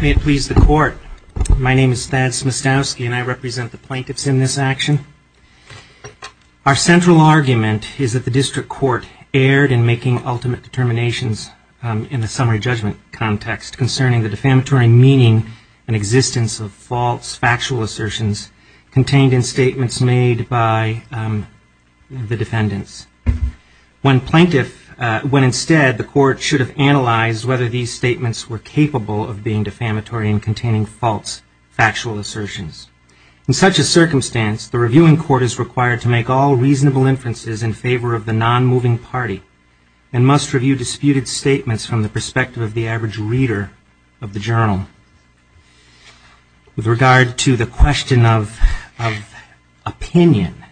May it please the Court, my name is Thad Smustowski and I represent the plaintiffs in this action. Our central argument is that the District Court erred in making ultimate determinations in the summary judgment context concerning the defamatory meaning and existence of false factual assertions contained in statements made by the defendants, when instead the Court should have analyzed whether these statements were capable of being defamatory and containing false factual assertions. In such a circumstance, the Reviewing Court is required to make all reasonable inferences in favor of the non-moving party and must review disputed statements from the perspective of the average reader of the journal. With regard to the question of opinion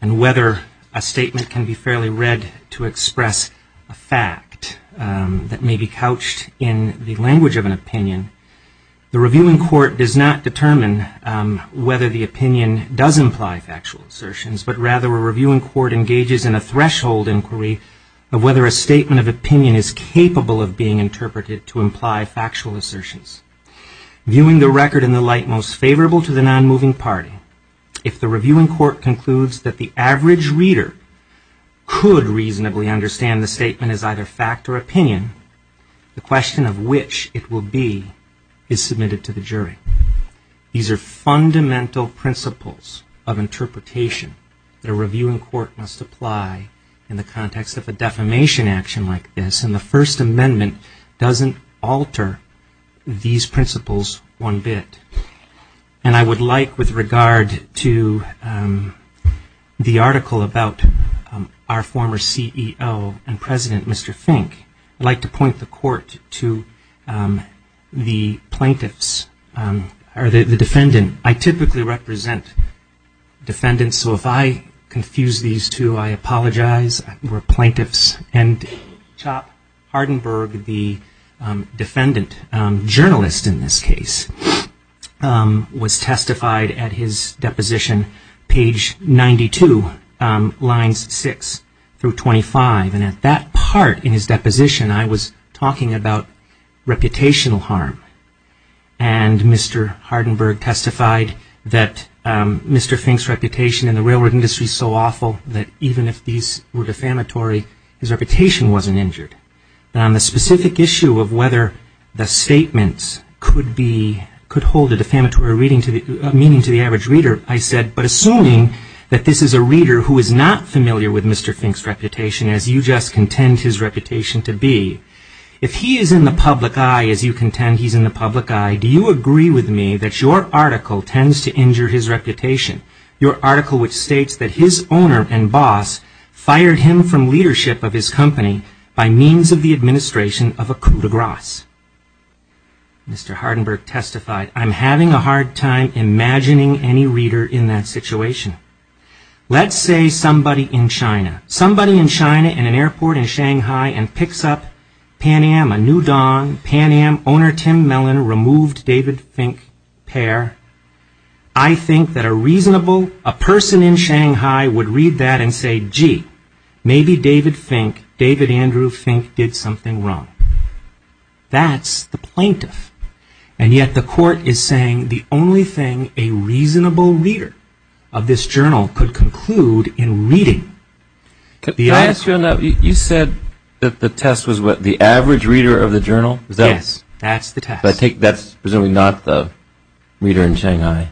and whether a statement can be fairly read to express a fact that may be couched in the language of an opinion, the Reviewing Court does not determine whether the opinion does imply factual assertions, but rather a Reviewing Court engages in a threshold inquiry of whether a statement of opinion is capable of being interpreted to imply a factual assertion. Viewing the record in the light most favorable to the non-moving party, if the Reviewing Court concludes that the average reader could reasonably understand the statement as either fact or opinion, the question of which it will be is submitted to the jury. These are fundamental principles of interpretation that a Reviewing Court must apply in the context of a defamation action like this, and the First Amendment doesn't alter these principles one bit. And I would like, with regard to the article about our former CEO and President, Mr. Fink, I'd like to point the Court to the plaintiffs or the defendant. I typically represent defendants, so if I confuse these two, I apologize. And Chop Hardenberg, the defendant journalist in this case, was testified at his deposition, page 92, lines 6 through 25, and at that part in his deposition I was talking about reputational harm. And Mr. Hardenberg testified that Mr. Fink's reputation in the railroad industry is so awful that even if these were defamatory, his reputation wasn't injured. And on the specific issue of whether the statements could hold a defamatory meaning to the average reader, I said, but assuming that this is a reader who is not familiar with Mr. Fink's reputation as you just contend his reputation to be, if he is in the public eye, as you contend he's in the public eye, do you agree with me that your article tends to injure his reputation? Your article which states that his owner and boss fired him from leadership of his company by means of the administration of a coup de grace. Mr. Hardenberg testified, I'm having a hard time imagining any reader in that situation. Let's say somebody in China, somebody in China in an airport in Shanghai and picks up Pan Am, a new don, Pan Am owner Tim Mellon removed David Fink pair. I think that a reasonable, a person in Shanghai would read that and say, gee, maybe David Fink, David Andrew Fink did something wrong. That's the plaintiff. And yet the court is saying the only thing a reasonable reader of this journal could conclude in reading the article. Could I ask you on that? You said that the test was what, the average reader of the journal? Yes, that's the test. But I take that's presumably not the reader in Shanghai.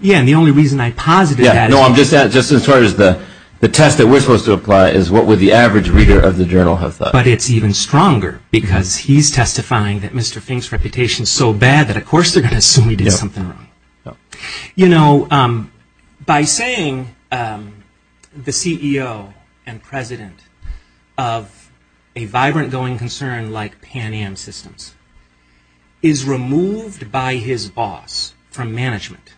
Yeah, and the only reason I posited that is because. Yeah, no, I'm just, just as far as the test that we're supposed to apply is what would the average reader of the journal have thought. But it's even stronger because he's testifying that Mr. Fink's reputation is so bad that of course they're going to assume he did something wrong. You know, by saying the CEO and president of a vibrant going concern like Pan Am Systems is removed by his boss from management.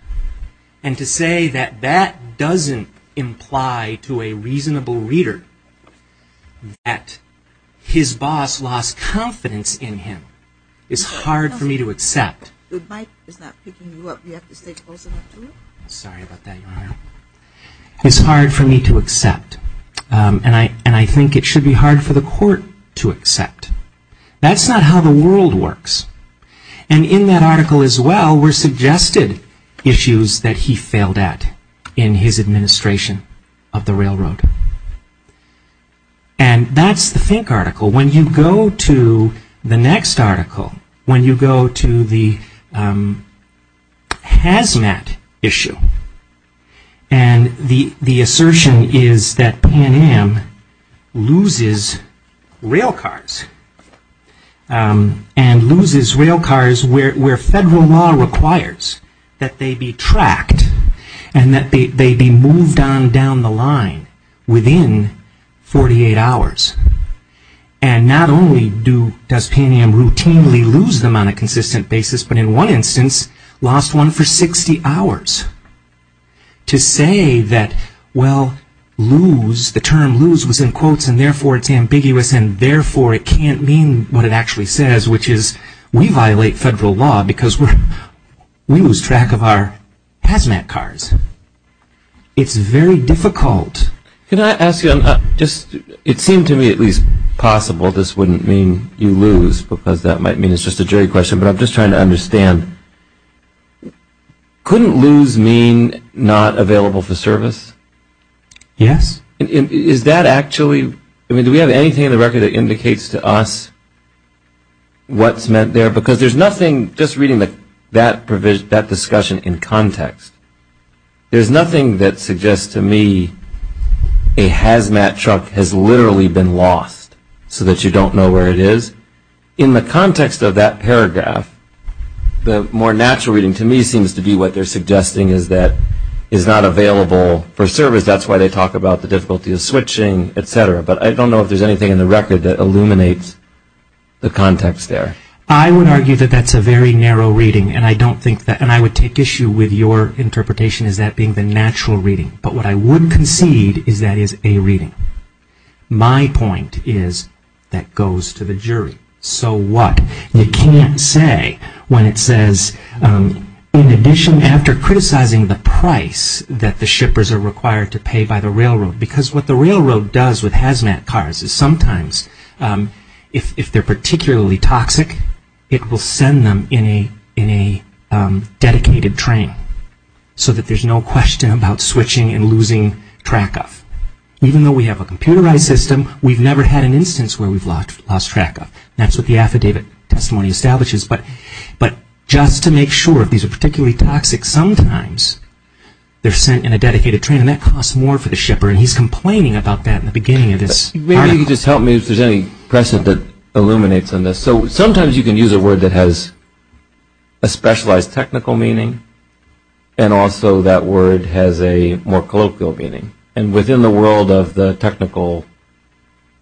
And to say that that doesn't imply to a reasonable reader that his boss lost confidence in him is hard for me to accept. The mic is not picking you up. You have to stay close enough to it. Sorry about that, Your Honor. It's hard for me to accept. And I think it should be hard for the court to accept. That's not how the world works. And in that article as well were suggested issues that he failed at in his administration of the railroad. And that's the Fink article. When you go to the next article, when you go to the Hazmat issue, And the assertion is that Pan Am loses railcars. And loses railcars where federal law requires that they be tracked and that they be moved on down the line within 48 hours. And not only does Pan Am routinely lose them on a consistent basis, but in one instance lost one for 60 hours. To say that, well, lose, the term lose was in quotes and therefore it's ambiguous and therefore it can't mean what it actually says, which is we violate federal law because we lose track of our Hazmat cars. It's very difficult. Can I ask you, it seemed to me at least possible this wouldn't mean you lose, because that might mean it's just a jury question, but I'm just trying to understand. Couldn't lose mean not available for service? Yes. Is that actually, do we have anything in the record that indicates to us what's meant there? Because there's nothing, just reading that discussion in context, there's nothing that suggests to me a Hazmat truck has literally been lost so that you don't know where it is. In the context of that paragraph, the more natural reading to me seems to be what they're suggesting is that it's not available for service. That's why they talk about the difficulty of switching, et cetera. But I don't know if there's anything in the record that illuminates the context there. I would argue that that's a very narrow reading, and I don't think that, and I would take issue with your interpretation as that being the natural reading. But what I would concede is that is a reading. My point is that goes to the jury. So what? You can't say when it says, in addition, after criticizing the price that the shippers are required to pay by the railroad, because what the railroad does with Hazmat cars is sometimes, if they're particularly toxic, it will send them in a dedicated train so that there's no question about switching and losing track of. Even though we have a computerized system, we've never had an instance where we've lost track of. That's what the affidavit testimony establishes. But just to make sure, if these are particularly toxic, sometimes they're sent in a dedicated train, and that costs more for the shipper, and he's complaining about that in the beginning of this. Maybe you could just help me if there's any precedent that illuminates on this. So sometimes you can use a word that has a specialized technical meaning, and also that word has a more colloquial meaning. And within the world of the technical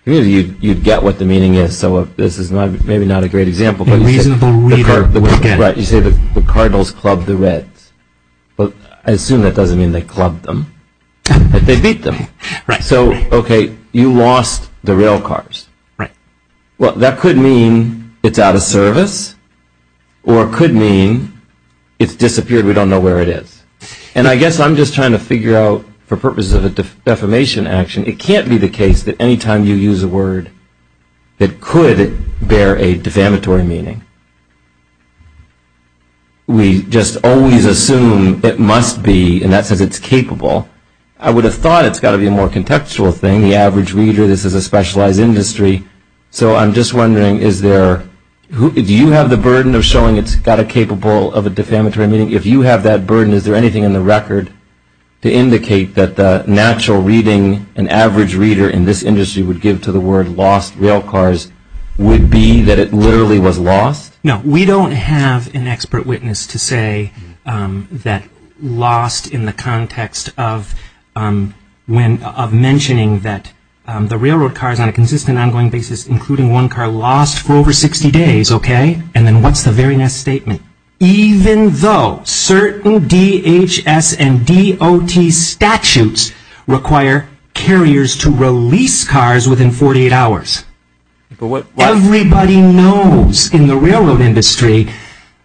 community, you'd get what the meaning is. So this is maybe not a great example. A reasonable reader would get it. Right, you say the Cardinals clubbed the Reds. Well, I assume that doesn't mean they clubbed them, but they beat them. So, okay, you lost the rail cars. Well, that could mean it's out of service, or it could mean it's disappeared, we don't know where it is. And I guess I'm just trying to figure out, for purposes of a defamation action, it can't be the case that any time you use a word that could bear a defamatory meaning, we just always assume it must be, and that says it's capable. I would have thought it's got to be a more contextual thing. The average reader, this is a specialized industry. So I'm just wondering, do you have the burden of showing it's got a capable of a defamatory meaning? If you have that burden, is there anything in the record to indicate that the natural reading an average reader in this industry would give to the word lost rail cars would be that it literally was lost? No, we don't have an expert witness to say that lost in the context of mentioning that the railroad cars, on a consistent, ongoing basis, including one car, lost for over 60 days, okay? And then what's the very next statement? Even though certain DHS and DOT statutes require carriers to release cars within 48 hours. Everybody knows in the railroad industry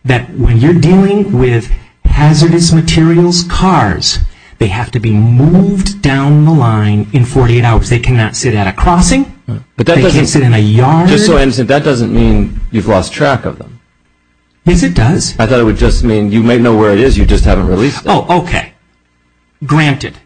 that when you're dealing with hazardous materials cars, they have to be moved down the line in 48 hours. They cannot sit at a crossing. They can't sit in a yard. That doesn't mean you've lost track of them. Yes, it does. I thought it would just mean you may know where it is. You just haven't released it. Oh, okay. Granted.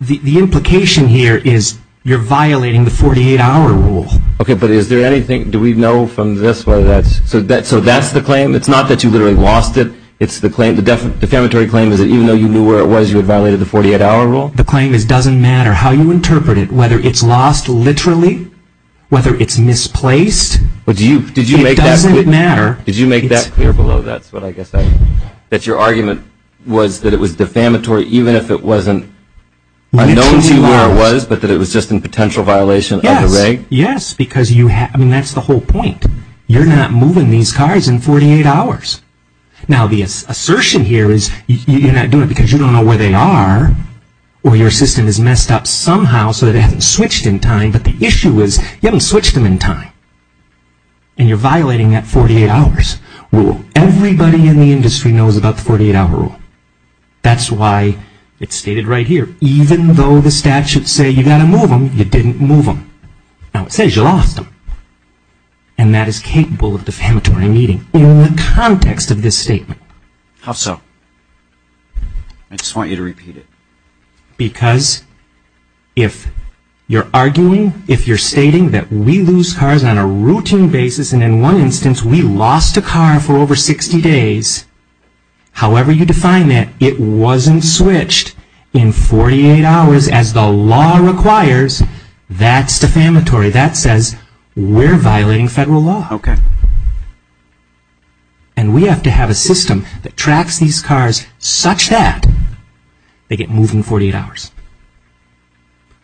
The implication here is you're violating the 48-hour rule. Okay, but is there anything, do we know from this whether that's, so that's the claim? It's not that you literally lost it. It's the claim, the defamatory claim is that even though you knew where it was, you had violated the 48-hour rule? The claim is it doesn't matter how you interpret it, whether it's lost literally, whether it's misplaced. It doesn't matter. Did you make that clear below, that's what I guess, that your argument was that it was defamatory, even if it wasn't known to you where it was, but that it was just in potential violation of the reg? Yes, yes, because you have, I mean, that's the whole point. You're not moving these cars in 48 hours. Now, the assertion here is you're not doing it because you don't know where they are or your system is messed up somehow so that it hasn't switched in time, but the issue is you haven't switched them in time. And you're violating that 48-hour rule. Everybody in the industry knows about the 48-hour rule. That's why it's stated right here. Even though the statutes say you've got to move them, you didn't move them. Now, it says you lost them. And that is capable of defamatory meaning in the context of this statement. How so? I just want you to repeat it. Because if you're arguing, if you're stating that we lose cars on a routine basis and in one instance we lost a car for over 60 days, however you define that, it wasn't switched in 48 hours as the law requires, that's defamatory. That says we're violating federal law. Okay. And we have to have a system that tracks these cars such that they get moved in 48 hours.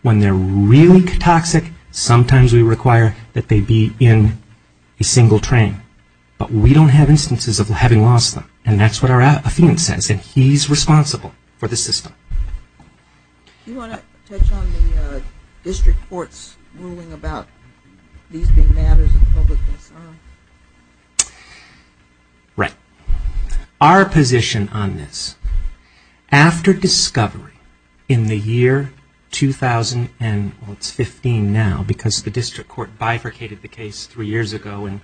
When they're really toxic, sometimes we require that they be in a single train. But we don't have instances of having lost them. And that's what our affidavit says. And he's responsible for the system. You want to touch on the district court's ruling about these being matters of public concern? Right. Our position on this, after discovery in the year 2015 now, because the district court bifurcated the case three years ago and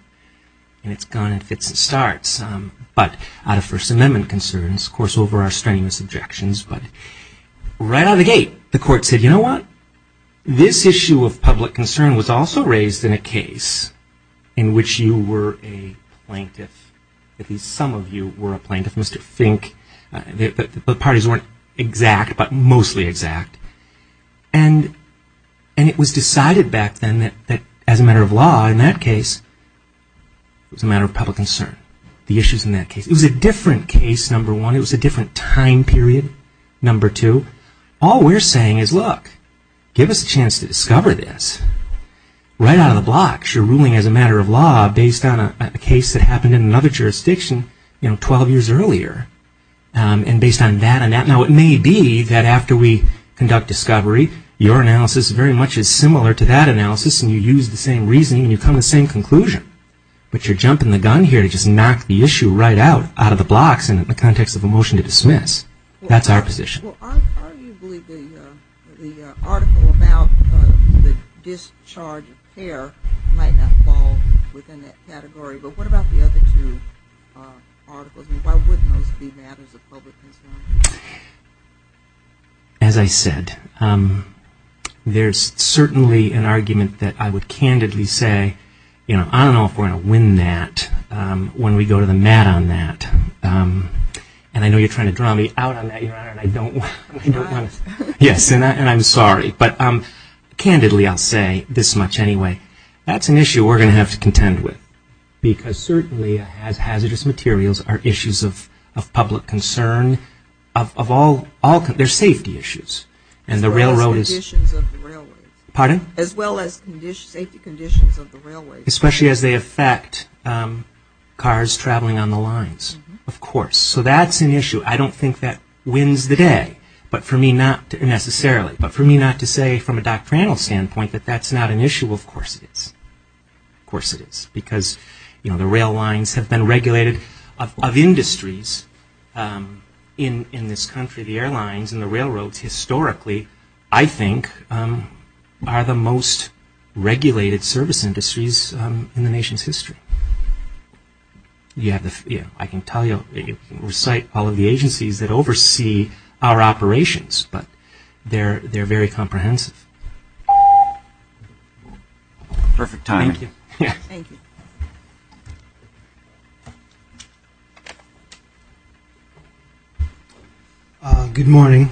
it's gone in fits and starts, but out of First Amendment concerns, of course over our strenuous objections, but right out of the gate the court said, you know what? This issue of public concern was also raised in a case in which you were a plaintiff, at least some of you were a plaintiff, Mr. Fink. The parties weren't exact but mostly exact. And it was decided back then that as a matter of law in that case, it was a matter of public concern, the issues in that case. It was a different case, number one. It was a different time period, number two. All we're saying is, look, give us a chance to discover this. Right out of the blocks you're ruling as a matter of law based on a case that happened in another jurisdiction 12 years earlier. And based on that, now it may be that after we conduct discovery, your analysis very much is similar to that analysis and you use the same reasoning and you come to the same conclusion. But you're jumping the gun here to just knock the issue right out of the blocks in the context of a motion to dismiss. That's our position. Well, arguably the article about the discharge of care might not fall within that category. But what about the other two articles? Why wouldn't those be matters of public concern? As I said, there's certainly an argument that I would candidly say, I don't know if we're going to win that when we go to the mat on that. And I know you're trying to draw me out on that, Your Honor, and I don't want to. Yes, and I'm sorry. But candidly I'll say, this much anyway, that's an issue we're going to have to contend with. Because certainly hazardous materials are issues of public concern. They're safety issues. As well as conditions of the railways. Pardon? As well as safety conditions of the railways. Especially as they affect cars traveling on the lines, of course. So that's an issue. I don't think that wins the day. But for me not necessarily. But for me not to say from a doctrinal standpoint that that's not an issue. Well, of course it is. Of course it is. Because the rail lines have been regulated. Of industries in this country, the airlines and the railroads historically, I think, are the most regulated service industries in the nation's history. I can tell you, recite all of the agencies that oversee our operations. But they're very comprehensive. Perfect timing. Thank you. Good morning.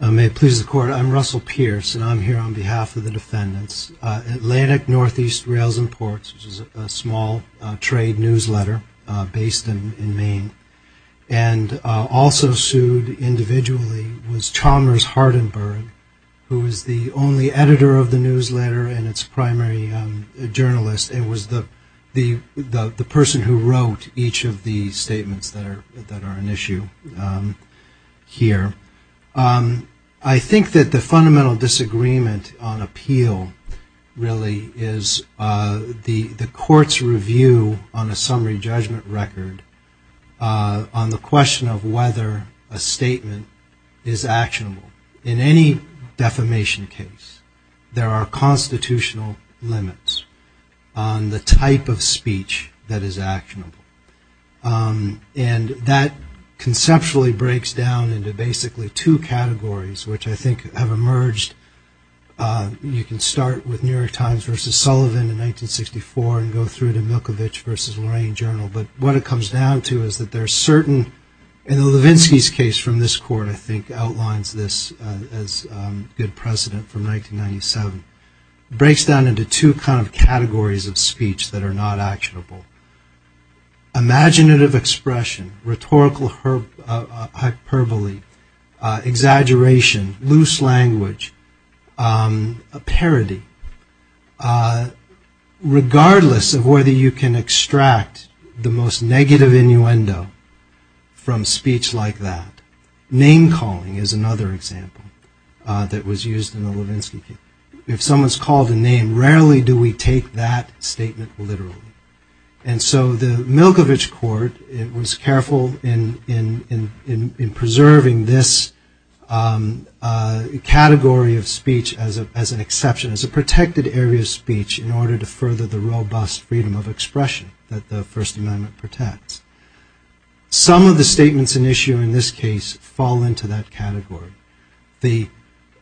May it please the Court. I'm Russell Pierce. And I'm here on behalf of the defendants. Atlantic Northeast Rails and Ports, which is a small trade newsletter based in Maine, and also sued individually was Chalmers Hardenberg, who is the only editor of the newsletter and its primary journalist. And was the person who wrote each of the statements that are an issue here. I think that the fundamental disagreement on appeal really is the court's review on a summary judgment record on the question of whether a statement is actionable. In any defamation case, there are constitutional limits on the type of speech that is actionable. And that conceptually breaks down into basically two categories, which I think have emerged. You can start with New York Times versus Sullivan in 1964 and go through to Milkovich versus Lorraine Journal. But what it comes down to is that there are certain, and Levinsky's case from this court I think outlines this as good precedent from 1997, breaks down into two kind of categories of speech that are not actionable. Imaginative expression, rhetorical hyperbole, exaggeration, loose language, a parody. Regardless of whether you can extract the most negative innuendo from speech like that, name calling is another example that was used in the Levinsky case. If someone's called a name, rarely do we take that statement literally. And so the Milkovich court was careful in preserving this category of speech as an exception, as a protected area of speech in order to further the robust freedom of expression that the First Amendment protects. Some of the statements in issue in this case fall into that category. The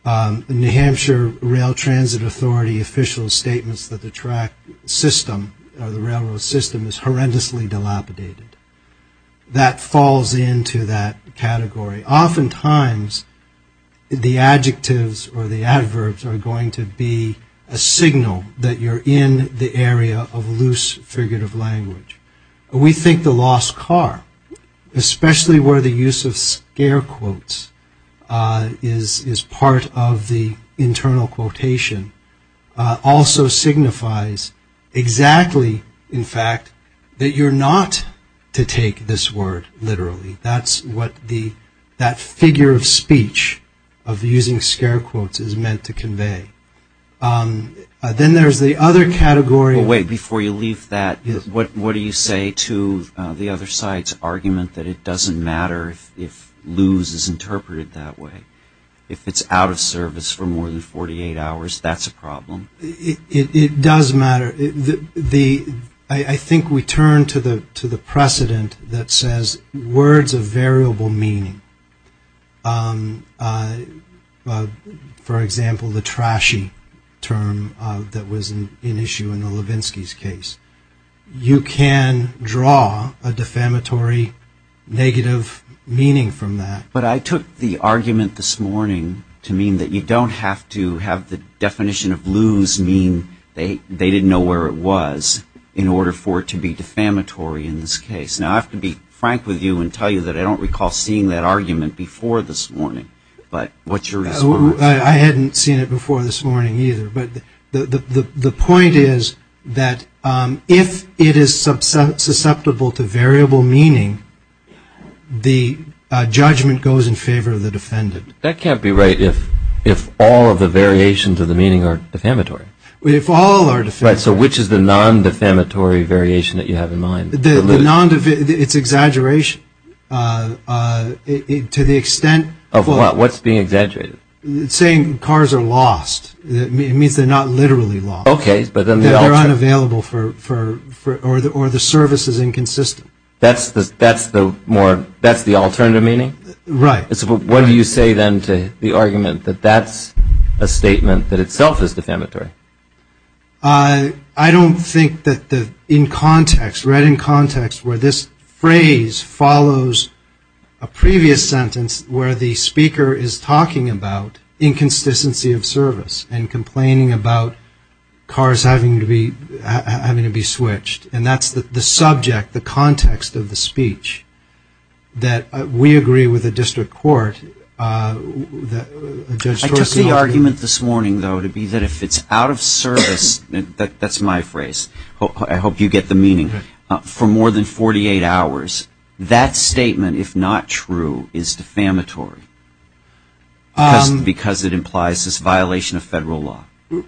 New Hampshire Rail Transit Authority official's statements that the track system, or the railroad system, is horrendously dilapidated. That falls into that category. Oftentimes the adjectives or the adverbs are going to be a signal that you're in the area of loose figurative language. We think the lost car, especially where the use of scare quotes is part of the internal quotation, also signifies exactly, in fact, that you're not to take this word literally. That's what that figure of speech, of using scare quotes, is meant to convey. Then there's the other category. Wait, before you leave that, what do you say to the other side's argument that it doesn't matter if loose is interpreted that way? If it's out of service for more than 48 hours, that's a problem? It does matter. I think we turn to the precedent that says words of variable meaning. For example, the trashy term that was in issue in the Levinsky's case. You can draw a defamatory negative meaning from that. But I took the argument this morning to mean that you don't have to have the definition of loose mean they didn't know where it was in order for it to be defamatory in this case. Now I have to be frank with you and tell you that I don't recall seeing that argument before this morning, but what's your response? I hadn't seen it before this morning either, but the point is that if it is susceptible to variable meaning, the judgment goes in favor of the defendant. That can't be right if all of the variations of the meaning are defamatory. So which is the non-defamatory variation that you have in mind? It's exaggeration. What's being exaggerated? It's saying cars are lost. It means they're not literally lost. Or the service is inconsistent. That's the alternative meaning? What do you say then to the argument that that's a statement that itself is defamatory? I don't think that in context, right in context where this phrase follows a previous sentence where the speaker is talking about inconsistency of service and complaining about cars having to be switched. And that's the subject, the context of the speech that we agree with the district court. I took the argument this morning though to be that if it's out of service, that's my phrase, I hope you get the meaning, for more than 48 hours, that statement, if not true, is defamatory. Because it implies this violation of federal law. The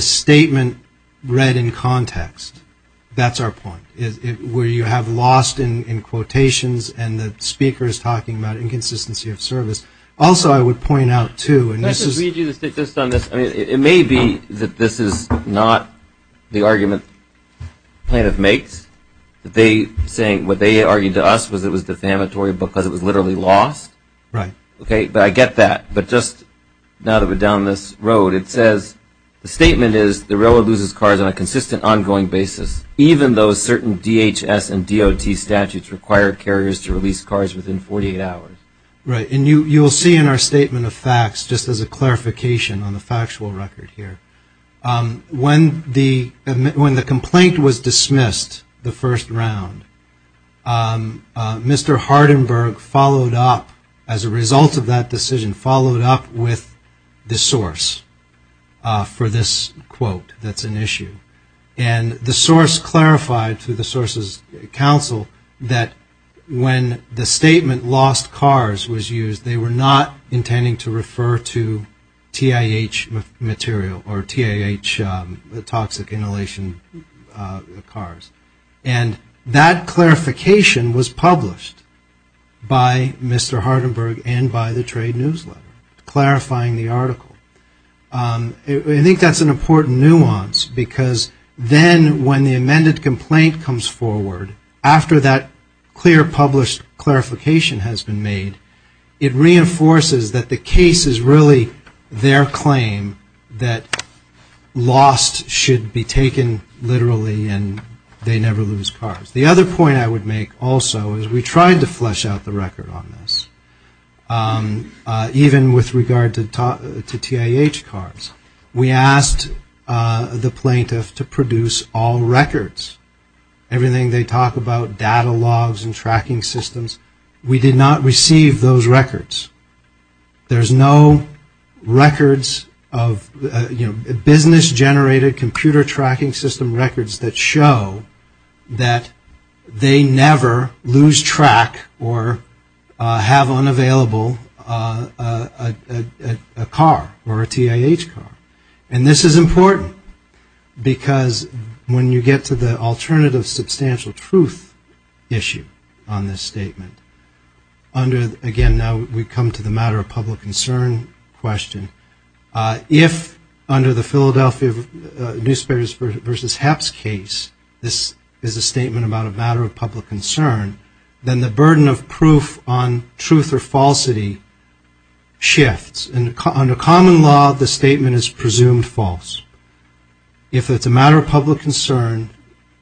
statement read in context, that's our point. Where you have lost in quotations and the speaker is talking about inconsistency of service. Also I would point out too. It may be that this is not the argument plaintiff makes. What they argued to us was it was defamatory because it was literally lost. But I get that, but just now that we're down this road, it says, the statement is, the railroad loses cars on a consistent ongoing basis, even though certain DHS and DOT statutes require carriers to release cars within 48 hours. Right, and you will see in our statement of facts, just as a clarification on the factual record here. When the complaint was dismissed the first round, Mr. Hardenberg followed up with a statement that said, as a result of that decision, followed up with the source for this quote that's an issue. And the source clarified to the sources counsel that when the statement lost cars was used, they were not intending to refer to TIH material or TIH toxic inhalation cars. And that clarification was published by Mr. Hardenberg and by the trade newsletter, clarifying the article. I think that's an important nuance, because then when the amended complaint comes forward, after that clear published clarification has been made, it reinforces that the case is really their claim that lost should be taken literally and they should be used. The other point I would make also is we tried to flesh out the record on this, even with regard to TIH cars. We asked the plaintiff to produce all records. Everything they talk about, data logs and tracking systems, we did not receive those records. There's no records of, you know, business-generated computer tracking system records that show that there was a loss of cars. That they never lose track or have unavailable a car or a TIH car. And this is important, because when you get to the alternative substantial truth issue on this statement, under, again, now we come to the matter of public concern question. If under the Philadelphia newspapers versus HAPS case, this is a statement about a matter of public concern, then the burden of proof on truth or falsity shifts. And under common law, the statement is presumed false. If it's a matter of public concern,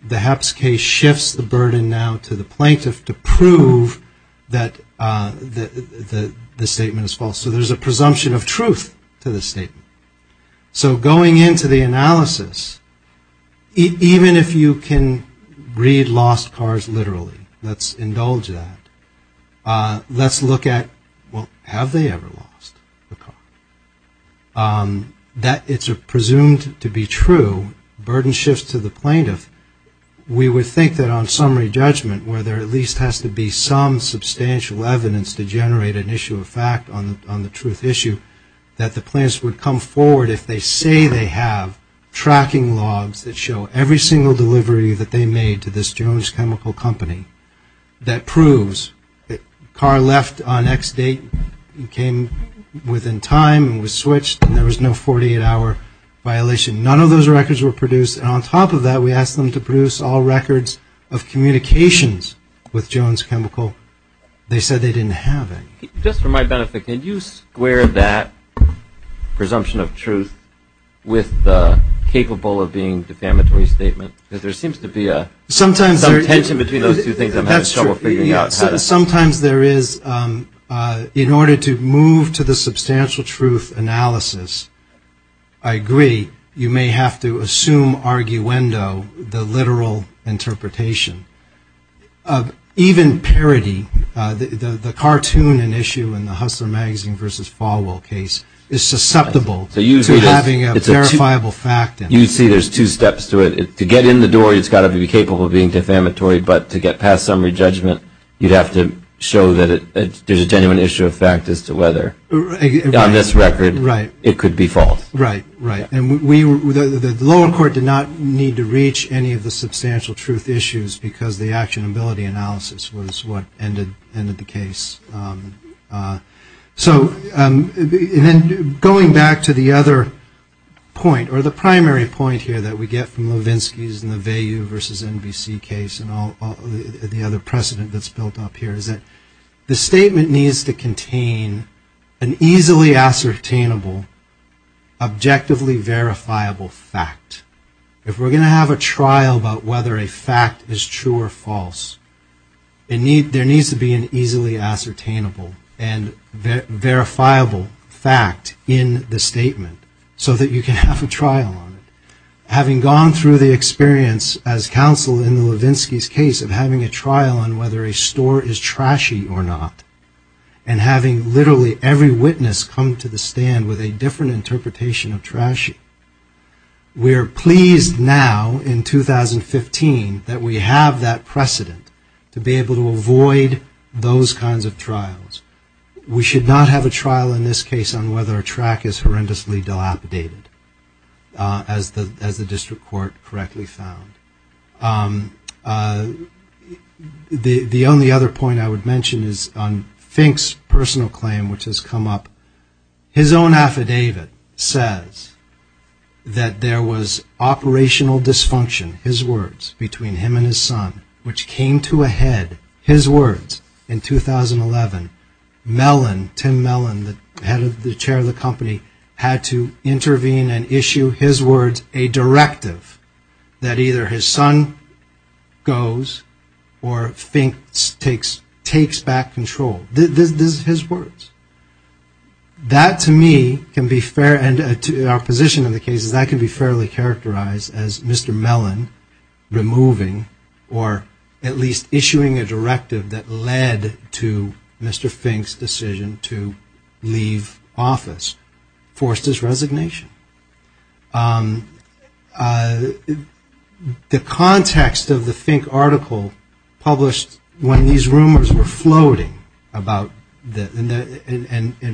the HAPS case shifts the burden now to the plaintiff to prove that the statement is false. So there's a presumption of truth to the statement. So going into the analysis, even if you can read lost cars literally, let's indulge that. Let's look at, well, have they ever lost a car? That it's presumed to be true, burden shifts to the plaintiff. We would think that on summary judgment, where there at least has to be some substantial evidence to generate an issue of fact on the statement, on the truth issue, that the plaintiffs would come forward if they say they have tracking logs that show every single delivery that they made to this Jones Chemical Company that proves that car left on X date, came within time and was switched, and there was no 48-hour violation. None of those records were produced. And on top of that, we asked them to produce all records of communications with Jones Chemical. They said they didn't have any. Just for my benefit, can you square that presumption of truth with the capable of being defamatory statement? Because there seems to be some tension between those two things. Sometimes there is. In order to move to the substantial truth analysis, I agree, you may have to assume arguendo, the literal interpretation. Even parody, the cartoon and issue in the Hustler Magazine versus Falwell case is susceptible to having a verifiable fact. You see there's two steps to it. To get in the door, it's got to be capable of being defamatory, but to get past summary judgment, you'd have to show that there's a genuine issue of fact as to whether on this record it could be false. And the lower court did not need to reach any of the substantial truth issues, because the actionability analysis was what ended the case. And then going back to the other point, or the primary point here that we get from Levinsky's and the Vayu versus NBC case, and the other precedent that's built up here, is that the statement needs to contain an easily ascertainable and objectively verifiable fact. If we're going to have a trial about whether a fact is true or false, there needs to be an easily ascertainable and verifiable fact in the statement, so that you can have a trial on it. Having gone through the experience as counsel in the Levinsky's case of having a trial on whether a store is trashy or not, and having literally every witness come to the stand with a different interpretation of trashy, we're pleased now in 2015 that we have that precedent to be able to avoid those kinds of trials. We should not have a trial in this case on whether a track is horrendously dilapidated, as the district court correctly found. The only other point I would mention is on Fink's personal claim, which has come up, his own affidavit says that there was operational dysfunction, his words, between him and his son, which came to a head, his words, in 2011, Mellon, Tim Mellon, the chair of the company, had to intervene and issue, his words, a directive that either his son or Tim Mellon, the chairman of the company, had to intervene, or his son goes, or Fink takes back control. This is his words. That to me can be fair, and our position in the case is that can be fairly characterized as Mr. Mellon removing, or at least issuing a directive that led to Mr. Fink's decision to leave office, forced his resignation. The context of the Fink article published when these rumors were floating about, and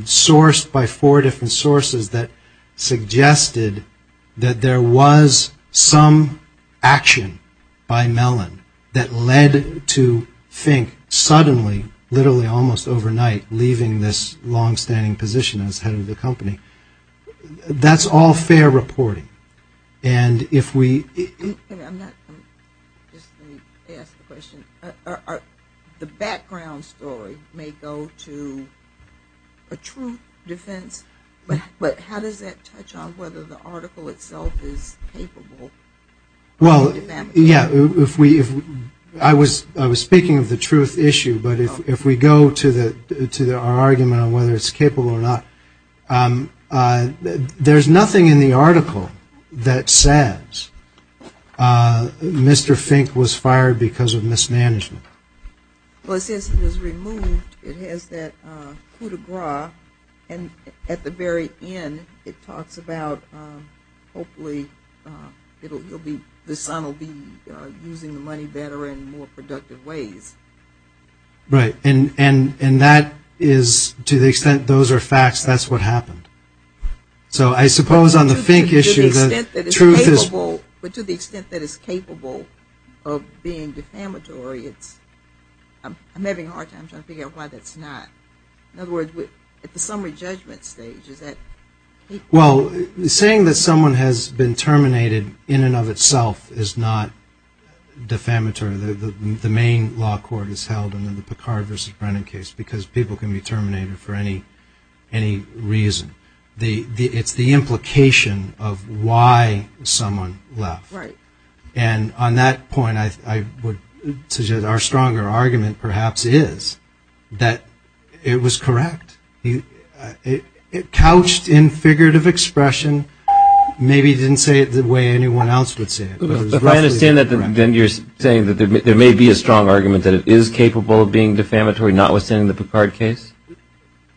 sourced by four different sources that suggested that there was some action by Mellon that led to Fink suddenly, literally almost overnight, leaving this longstanding position as head of the company, that's all fair reporting. The background story may go to a true defense, but how does that touch on whether the article itself is capable? Well, yeah, I was speaking of the truth issue, but if we go to our argument on whether it's capable or not, there's nothing in the article that says Mr. Fink was fired because of mismanagement. Well, it says he was removed, it has that coup de grace, and at the very end it talks about hopefully the son will be using the money better and in more productive ways. Right, and that is, to the extent those are facts, that's what happened. So I suppose on the Fink issue that truth is... But to the extent that it's capable of being defamatory, it's, I'm having a hard time trying to figure out why that's not. In other words, at the summary judgment stage, is that... Well, saying that someone has been terminated in and of itself is not defamatory. The main law court is held in the Picard versus Brennan case, because people can be terminated for any reason. It's the implication of why someone left. And on that point, I would suggest our stronger argument perhaps is that it was correct. It couched in figurative expression, maybe it didn't say it the way anyone else would say it. If I understand that, then you're saying that there may be a strong argument that it is capable of being defamatory, notwithstanding the Picard case?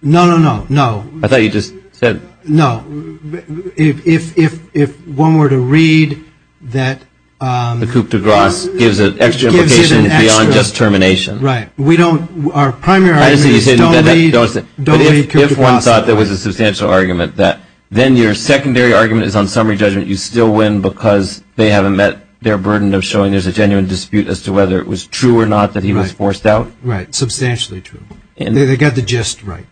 No, no, no, no. I thought you just said... No, if one were to read that... The coup de grace gives an extra implication beyond just termination. Right. We don't... If one thought there was a substantial argument, then your secondary argument is on summary judgment, you still win because they haven't met their burden of showing there's a genuine dispute as to whether it was true or not that he was forced out? Right, substantially true. They got the gist right.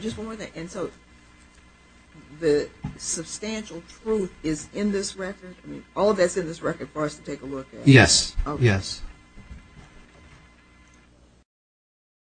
Just one more thing. The substantial truth is in this record? Yes.